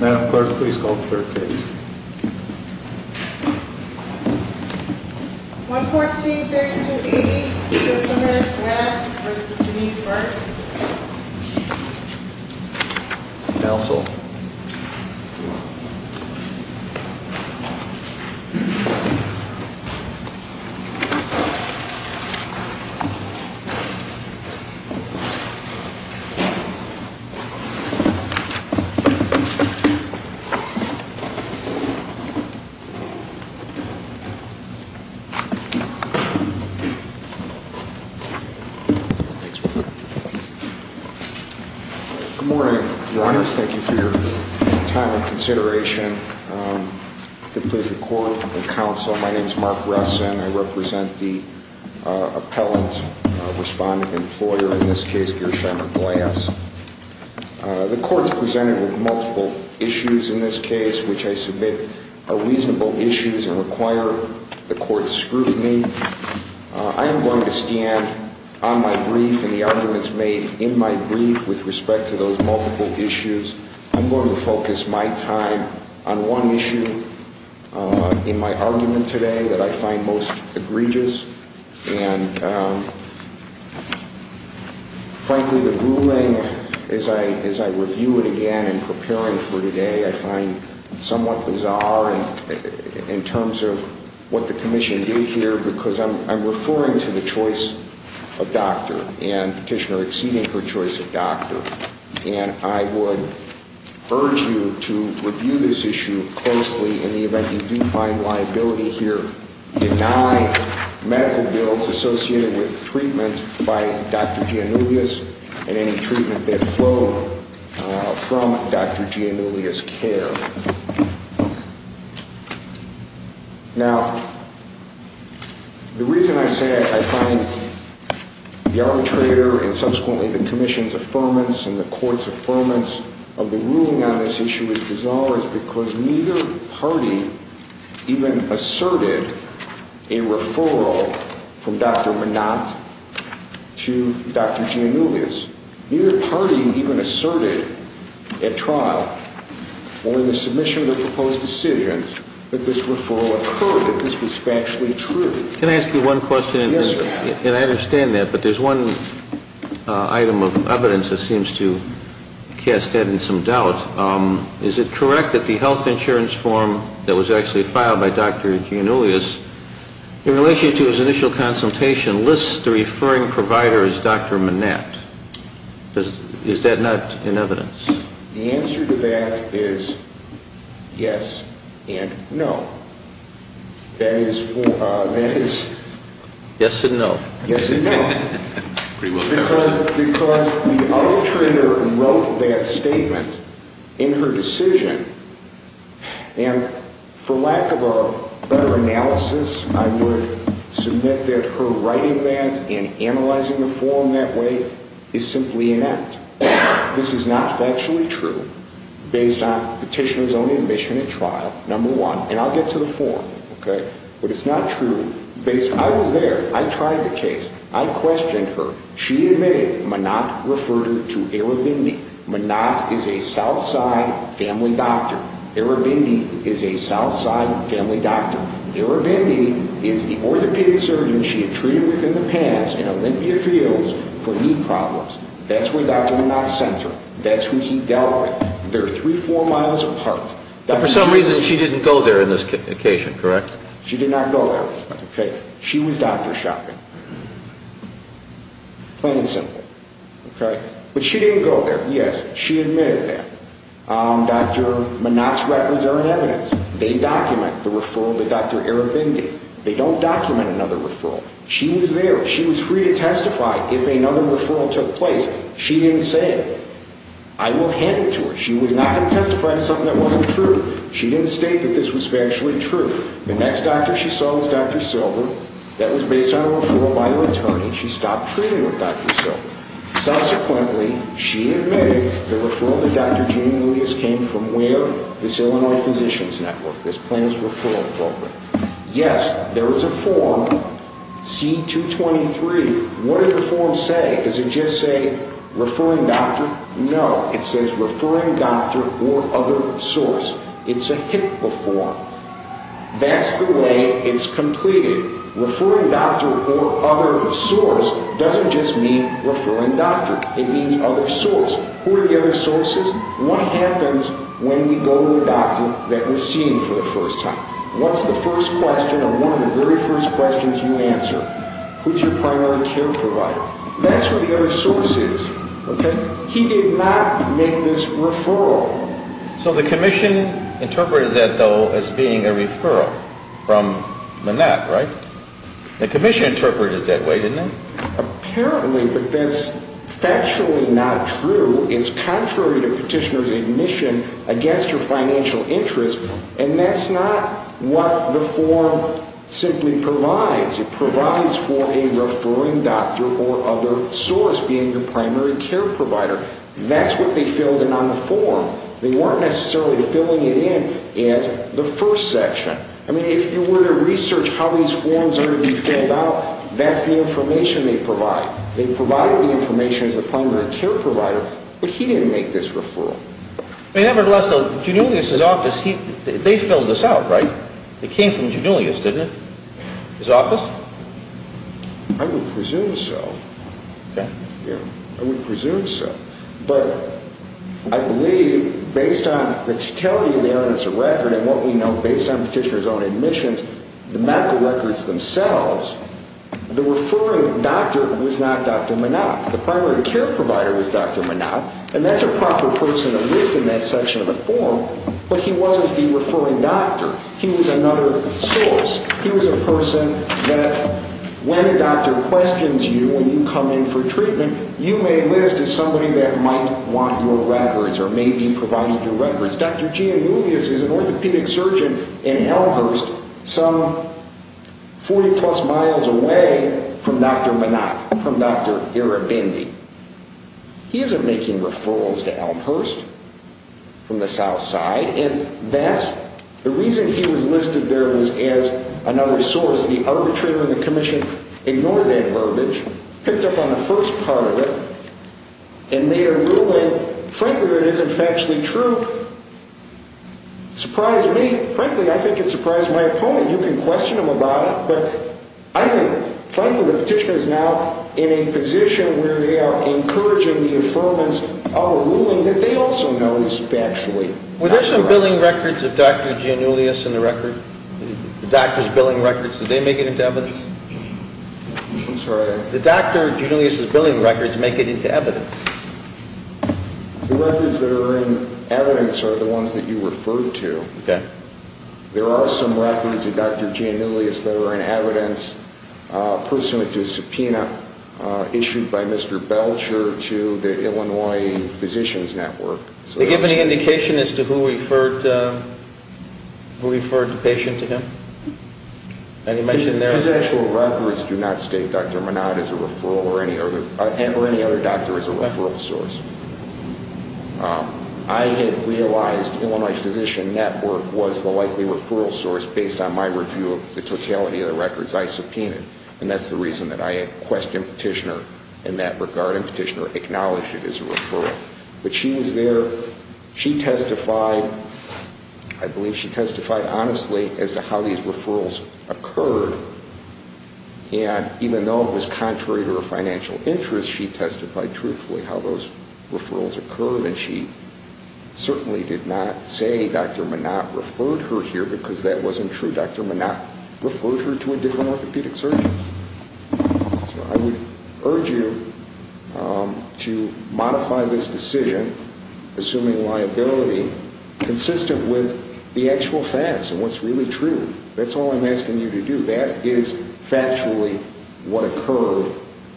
Madam Clerk, please call the third case. 114-3280, Josephine Glass v. Denise Burke Counsel Good morning, Your Honors. Thank you for your time and consideration. If it pleases the Court and the Counsel, my name is Mark Ressin. I represent the appellant respondent employer, in this case, Gersheimer Glass. The Court is presented with multiple issues in this case, which I submit are reasonable issues and require the Court's scrutiny. I am going to stand on my brief and the arguments made in my brief with respect to those multiple issues. I'm going to focus my time on one issue in my argument today that I find most egregious. Frankly, the ruling, as I review it again in preparing for today, I find somewhat bizarre in terms of what the Commission did here because I'm referring to the choice of doctor and Petitioner exceeding her choice of doctor. And I would urge you to review this issue closely in the event you do find liability here. Deny medical bills associated with treatment by Dr. Giannullis and any treatment that flowed from Dr. Giannullis' care. Now, the reason I say I find the arbitrator and subsequently the Commission's affirmance and the Court's affirmance of the ruling on this issue as bizarre is because neither party even asserted a referral from Dr. Minot to Dr. Giannullis. Neither party even asserted at trial or in the submission of the proposed decisions that this referral occurred, that this was factually true. Can I ask you one question? Yes, sir. And I understand that, but there's one item of evidence that seems to cast that in some doubt. Is it correct that the health insurance form that was actually filed by Dr. Giannullis, in relation to his initial consultation, lists the referring provider as Dr. Minot? Is that not in evidence? The answer to that is yes and no. That is... Yes and no. Yes and no. Because the arbitrator wrote that statement in her decision, and for lack of a better analysis, I would submit that her writing that and analyzing the form that way is simply inept. This is not factually true, based on the petitioner's own admission at trial, number one. And I'll get to the form, okay? But it's not true. I was there. I tried the case. I questioned her. She admitted Minot referred her to Erebendi. Minot is a Southside family doctor. Erebendi is a Southside family doctor. Erebendi is the orthopedic surgeon she had treated with in the past in Olympia Fields for knee problems. That's where Dr. Minot sent her. That's who he dealt with. They're three, four miles apart. But for some reason, she didn't go there on this occasion, correct? She did not go there, okay? She was doctor shopping, plain and simple, okay? But she didn't go there. Yes, she admitted that. Dr. Minot's records are in evidence. They document the referral to Dr. Erebendi. They don't document another referral. She was there. She was free to testify if another referral took place. She didn't say it. I will hand it to her. She was not going to testify to something that wasn't true. She didn't state that this was factually true. The next doctor she saw was Dr. Silber. That was based on a referral by her attorney. She stopped treating with Dr. Silber. Subsequently, she admitted the referral to Dr. Genie Milius came from where? This Illinois Physicians Network, this Plans Referral Program. Yes, there was a form, C-223. What did the form say? Does it just say referring doctor? No, it says referring doctor or other source. It's a HIPAA form. That's the way it's completed. Referring doctor or other source doesn't just mean referring doctor. It means other source. Who are the other sources? What happens when we go to the doctor that we're seeing for the first time? What's the first question or one of the very first questions you answer? Who's your primary care provider? That's where the other source is. He did not make this referral. So the commission interpreted that, though, as being a referral from Manette, right? The commission interpreted it that way, didn't they? Apparently, but that's factually not true. It's contrary to petitioner's admission against your financial interest, and that's not what the form simply provides. It provides for a referring doctor or other source being the primary care provider. That's what they filled in on the form. They weren't necessarily filling it in as the first section. I mean, if you were to research how these forms are to be filled out, that's the information they provide. They provided the information as the primary care provider, but he didn't make this referral. Nevertheless, Janulius's office, they filled this out, right? It came from Janulius, didn't it, his office? I would presume so. Okay. I would presume so. But I believe, based on the totality of the evidence of record and what we know based on petitioner's own admissions, the medical records themselves, the referring doctor was not Dr. Manette. The primary care provider was Dr. Manette, and that's a proper person to list in that section of the form, but he wasn't the referring doctor. He was another source. He was a person that when a doctor questions you when you come in for treatment, you may list as somebody that might want your records or may be providing your records. Dr. Janulius is an orthopedic surgeon in Elmhurst, some 40-plus miles away from Dr. Manette, from Dr. Erebendi. He isn't making referrals to Elmhurst from the south side, and that's the reason he was listed there was as another source. The arbitrator and the commission ignored that verbiage, picked up on the first part of it, and made a ruling, frankly, that isn't factually true. Surprised me. Frankly, I think it surprised my opponent. You can question him about it, but I think, frankly, the petitioner is now in a position where they are encouraging the affirmance of a ruling that they also noticed factually. Were there some billing records of Dr. Janulius in the record, the doctor's billing records? Did they make it into evidence? I'm sorry? Did Dr. Janulius' billing records make it into evidence? The records that are in evidence are the ones that you referred to. Okay. There are some records of Dr. Janulius that are in evidence pursuant to subpoena issued by Mr. Belcher to the Illinois Physicians Network. Did they give any indication as to who referred the patient to him? His actual records do not state Dr. Manat as a referral or any other doctor as a referral source. I had realized Illinois Physician Network was the likely referral source based on my review of the totality of the records I subpoenaed, and that's the reason that I questioned the petitioner in that regard and the petitioner acknowledged it as a referral. But she was there. She testified, I believe she testified honestly, as to how these referrals occurred, and even though it was contrary to her financial interests, she testified truthfully how those referrals occurred, and she certainly did not say Dr. Manat referred her here because that wasn't true. Dr. Manat referred her to a different orthopedic surgeon. So I would urge you to modify this decision, assuming liability, consistent with the actual facts and what's really true. That's all I'm asking you to do. That is factually what occurred,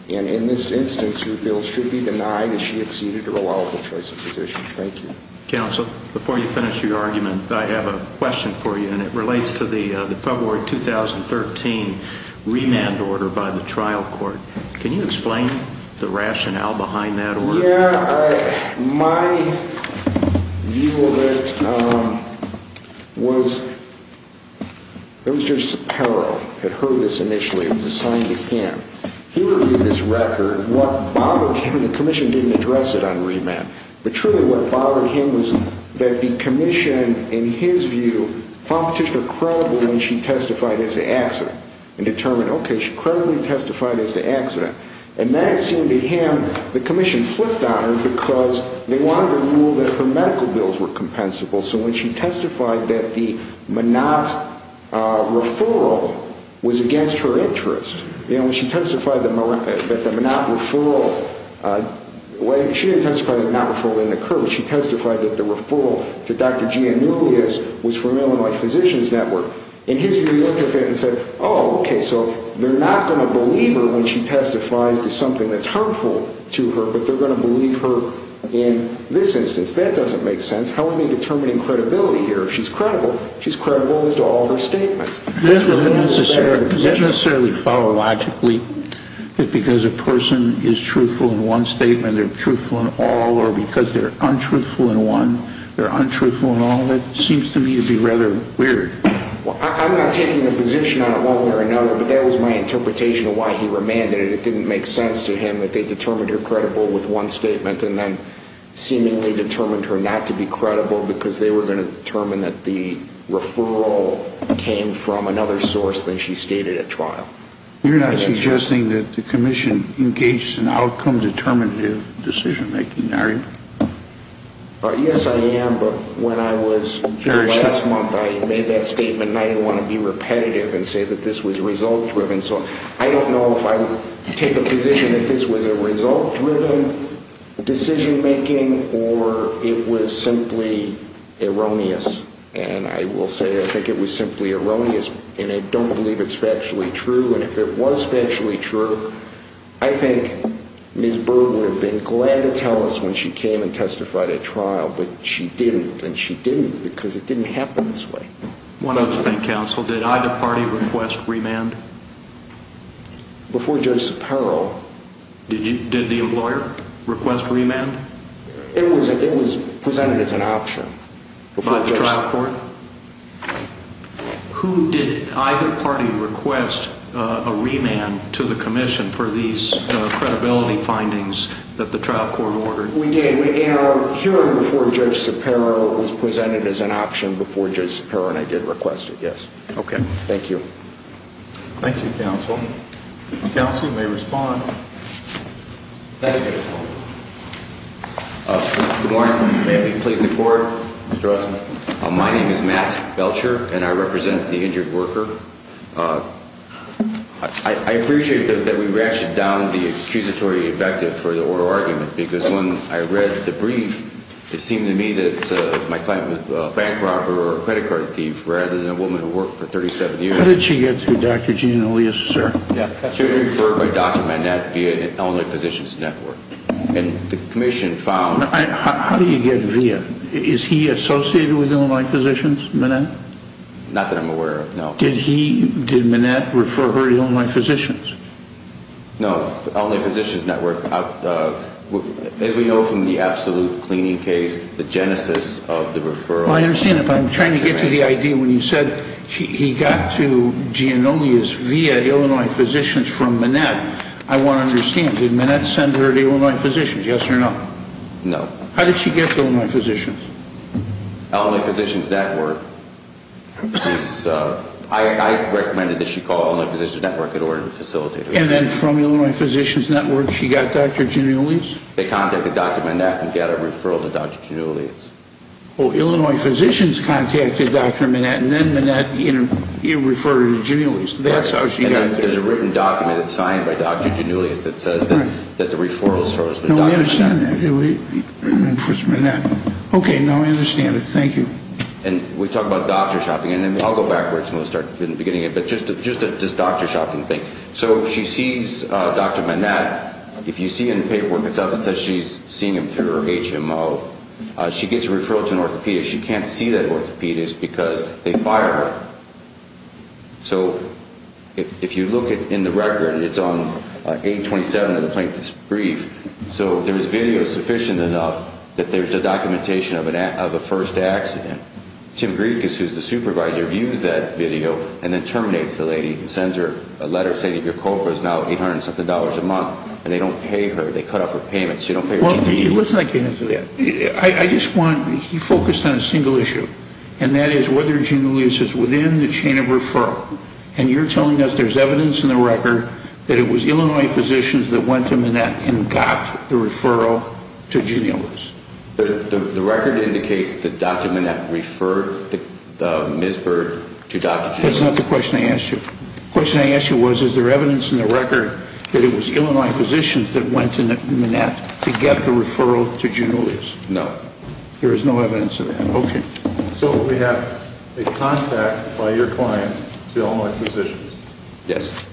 and in this instance, your bill should be denied as she exceeded her allowable choice of physician. Thank you. Counsel, before you finish your argument, I have a question for you, and it relates to the February 2013 remand order by the trial court. Can you explain the rationale behind that order? Yeah. My view of it was there was Judge Sapero that heard this initially. It was assigned to him. He reviewed this record. What bothered him, the commission didn't address it on remand, but truly what bothered him was that the commission, in his view, found Petitioner credible when she testified as to accident and determined, okay, she credibly testified as to accident. And that seemed to him, the commission flipped on her because they wanted her to rule that her medical bills were compensable. So when she testified that the Manat referral was against her interests, you know, when she testified that the Manat referral, she didn't testify that the Manat referral didn't occur, but she testified that the referral to Dr. Giannoulias was from Illinois Physicians Network. In his view, he looked at that and said, oh, okay, so they're not going to believe her when she testifies to something that's harmful to her, but they're going to believe her in this instance. That doesn't make sense. How are they determining credibility here? If she's credible, she's credible as to all her statements. Does that necessarily follow logically that because a person is truthful in one statement, they're truthful in all, or because they're untruthful in one, they're untruthful in all? That seems to me to be rather weird. I'm not taking the position on it one way or another, but that was my interpretation of why he remanded it. It didn't make sense to him that they determined her credible with one statement and then seemingly determined her not to be credible because they were going to determine that the referral came from another source than she stated at trial. You're not suggesting that the commission engaged in outcome-determinative decision-making, are you? Yes, I am, but when I was here last month, I made that statement, and I didn't want to be repetitive and say that this was result-driven. I don't know if I take a position that this was a result-driven decision-making or it was simply erroneous, and I will say I think it was simply erroneous, and I don't believe it's factually true, and if it was factually true, I think Ms. Berg would have been glad to tell us when she came and testified at trial, but she didn't, and she didn't because it didn't happen this way. One other thing, counsel. Did either party request remand? Before Judge Supero. Did the lawyer request remand? It was presented as an option. By the trial court? Who did either party request a remand to the commission for these credibility findings that the trial court ordered? We did. It occurred before Judge Supero. It was presented as an option before Judge Supero, and I did request it, yes. Okay. Thank you. Thank you, counsel. Counsel, you may respond. Thank you. Good morning. May it please the Court? Mr. Osmond. My name is Matt Belcher, and I represent the injured worker. I appreciate that we ratcheted down the accusatory invective for the oral argument, because when I read the brief, it seemed to me that my client was a bank robber or a credit card thief rather than a woman who worked for 37 years. How did she get to Dr. Jean Elias, sir? She was referred by Dr. Manette via the Illinois Physicians Network, and the commission found How did he get via? Is he associated with Illinois Physicians, Manette? Not that I'm aware of, no. Did Manette refer her to Illinois Physicians? No, Illinois Physicians Network. As we know from the absolute cleaning case, the genesis of the referrals Well, I understand that, but I'm trying to get to the idea when you said he got to Jean Elias via Illinois Physicians from Manette. I want to understand, did Manette send her to Illinois Physicians, yes or no? No. How did she get to Illinois Physicians? Illinois Physicians Network. I recommended that she call Illinois Physicians Network in order to facilitate her. And then from Illinois Physicians Network, she got Dr. Jean Elias? They contacted Dr. Manette and got a referral to Dr. Jean Elias. Well, Illinois Physicians contacted Dr. Manette, and then Manette referred her to Jean Elias. That's how she got there. There's a written document signed by Dr. Jean Elias that says that the referral source was Dr. Jean Elias. I understand that. Okay, now I understand it. Thank you. And we talk about doctor shopping, and I'll go backwards from the beginning, but just this doctor shopping thing. So she sees Dr. Manette. If you see in the paperwork itself, it says she's seeing him through her HMO. She gets a referral to an orthopedist. She can't see that orthopedist because they fired her. So if you look in the record, it's on 827 of the plaintiff's brief. So there's video sufficient enough that there's a documentation of a first accident. Tim Griekus, who's the supervisor, views that video and then terminates the lady and sends her a letter saying that your COPA is now $800-something a month, and they don't pay her. They cut off her payments. She don't pay her TTE. Well, listen, I can answer that. He focused on a single issue, and that is whether Junelius is within the chain of referral. And you're telling us there's evidence in the record that it was Illinois physicians that went to Manette and got the referral to Junelius. The record indicates that Dr. Manette referred Ms. Bird to Dr. Junelius. That's not the question I asked you. The question I asked you was is there evidence in the record that it was Illinois physicians that went to Manette to get the referral to Junelius. No. There is no evidence of that. Okay. So we have a contact by your client to Illinois physicians. Yes.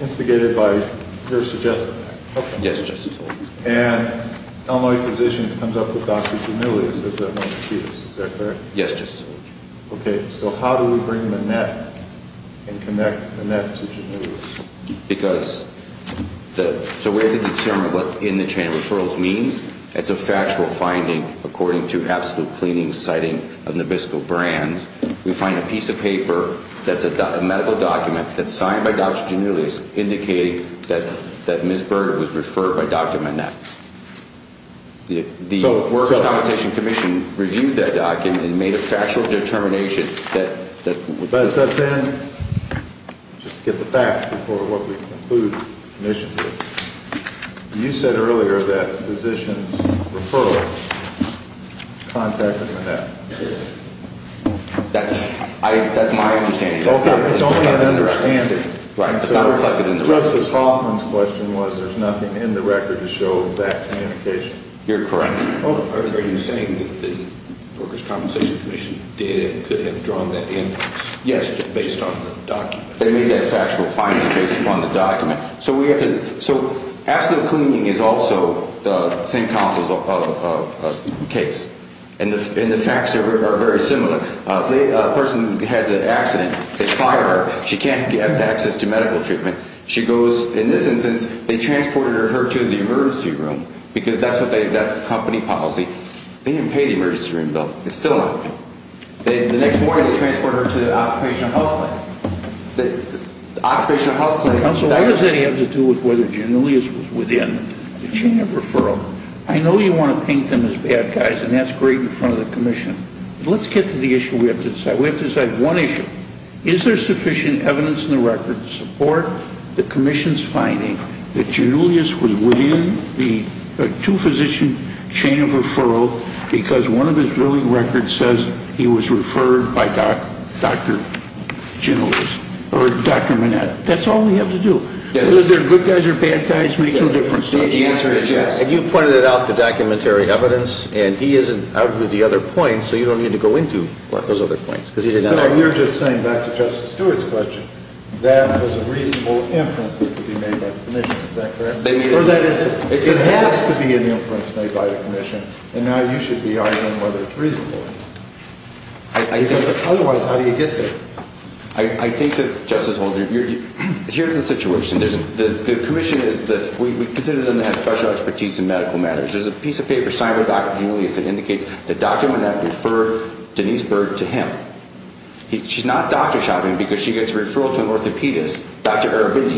Instigated by your suggestion. Yes, just so you know. And Illinois physicians comes up with Dr. Junelius as their most acutest. Is that correct? Yes, just so you know. Okay. So how do we bring Manette and connect Manette to Junelius? Because the way to determine what's in the chain of referrals means it's a factual finding according to absolute cleaning citing of Nabisco brand. We find a piece of paper that's a medical document that's signed by Dr. Junelius indicating that Ms. Bird was referred by Dr. Manette. The Works Compensation Commission reviewed that document and made a factual determination that But then, just to get the facts before what we conclude the commission did, you said earlier that physicians' referrals contacted Manette. That's my understanding. It's only an understanding. Justice Hoffman's question was there's nothing in the record to show that communication. You're correct. Are you saying that the Workers' Compensation Commission did and could have drawn that inference based on the document? They made that factual finding based upon the document. So absolute cleaning is also the same counsel's case, and the facts are very similar. A person has an accident. They fire her. She can't get access to medical treatment. In this instance, they transported her to the emergency room because that's the company policy. They didn't pay the emergency room bill. It's still not paid. The next morning they transported her to the occupational health clinic. The occupational health clinic. Counsel, why does that have to do with whether Junelius was within the chain of referral? I know you want to paint them as bad guys, and that's great in front of the commission. Let's get to the issue we have to decide. We have to decide one issue. Is there sufficient evidence in the record to support the commission's finding that Junelius was within the two-physician chain of referral because one of his billing records says he was referred by Dr. Junelius or Dr. Manette? That's all we have to do. Whether they're good guys or bad guys makes no difference. The answer is yes. And you pointed it out, the documentary evidence, and he isn't out with the other points, so you don't need to go into those other points. So you're just saying, back to Justice Stewart's question, that was a reasonable inference that could be made by the commission. Is that correct? Or that it has to be an inference made by the commission, and now you should be arguing whether it's reasonable. Otherwise, how do you get there? I think that, Justice Holdren, here's the situation. The commission is that we consider them to have special expertise in medical matters. There's a piece of paper signed by Dr. Junelius that indicates that Dr. Manette referred Denise Bird to him. She's not doctor shopping because she gets a referral to an orthopedist.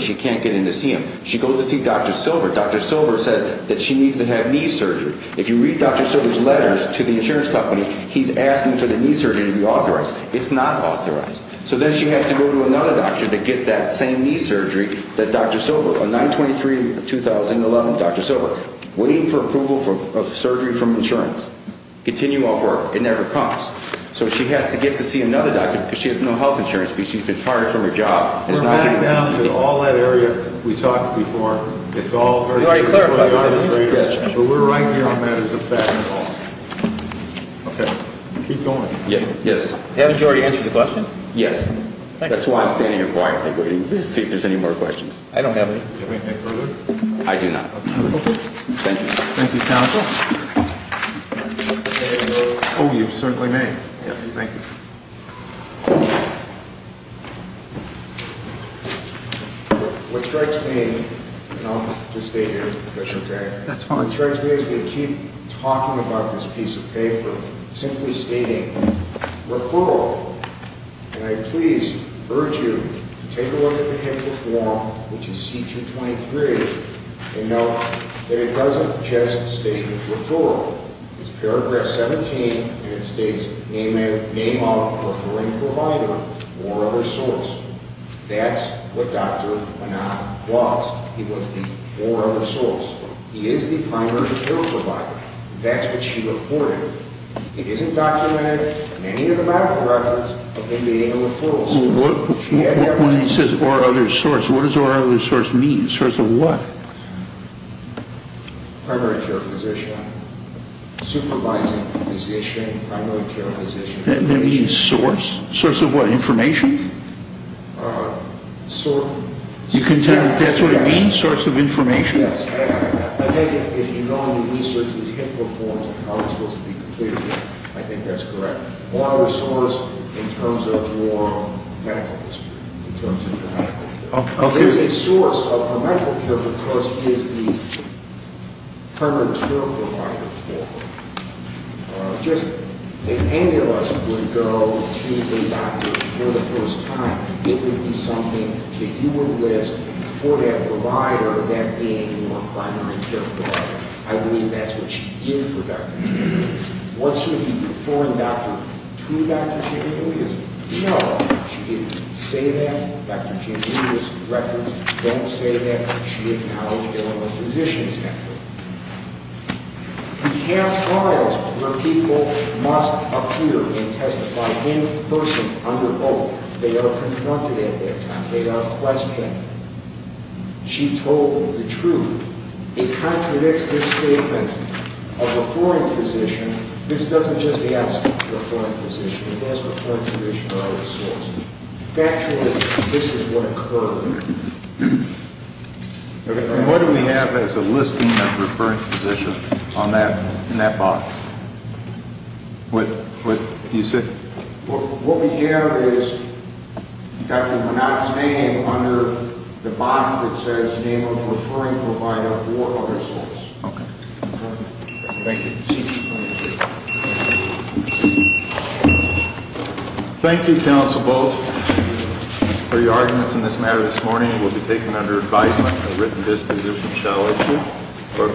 She can't get in to see him. She goes to see Dr. Silver. Dr. Silver says that she needs to have knee surgery. If you read Dr. Silver's letters to the insurance company, he's asking for the knee surgery to be authorized. It's not authorized. So then she has to go to another doctor to get that same knee surgery that Dr. Silver, a 9-23-2011 Dr. Silver. Waiting for approval of surgery from insurance. Continue all four. It never comes. So she has to get to see another doctor because she has no health insurance because she's been fired from her job. We're not down to all that area we talked before. You already clarified that. But we're right here on matters of fact and law. Okay. Keep going. Yes. Haven't you already answered the question? Yes. That's why I'm standing here quietly waiting to see if there's any more questions. I don't have any. Do you have anything further? I do not. Okay. Thank you. Thank you, counsel. Oh, you certainly may. Yes. Thank you. What strikes me, and I'll just state here, if that's okay. That's fine. What strikes me as we keep talking about this piece of paper, simply stating referral, and I please urge you to take a look at the paper form, which is C-223, and note that it doesn't just state referral. It's paragraph 17, and it states, Name of referring provider or other source. That's what Dr. Monod wants. He wants the or other source. He is the primary referral provider. That's what she reported. It isn't documented in any of the medical records of him being a referral source. When he says or other source, what does or other source mean? Source of what? Primary care physician, supervising physician, primary care physician. That means source? Source of what, information? Source. You can tell that's what it means, source of information? Yes. I think if you know the research that he performed and how it's supposed to be completed, I think that's correct. Or other source in terms of your medical history, in terms of your medical history. There's a source of a medical care because he is the primary care provider for her. If any of us would go to the doctor for the first time, it would be something that you would list for that provider that being your primary care provider. I believe that's what she did for Dr. Chambelius. Was she to perform doctor to Dr. Chambelius? No. She didn't say that. Dr. Chambelius records don't say that. She acknowledged it on the physician's record. We have trials where people must appear and testify in person under oath. They are confronted at that time. They are questioned. She told the truth. It contradicts this statement of a foreign physician. This doesn't just ask for a foreign physician. It has to be a foreign physician or other source. Factually, this is what occurred. What do we have as a listing of referring physicians in that box? What we have is Dr. Bernat's name under the box that says name of referring provider or other source. Thank you. Thank you. Thank you, counsel. Both for your arguments in this matter this morning will be taken under advisement at a written disposition, shall I assume.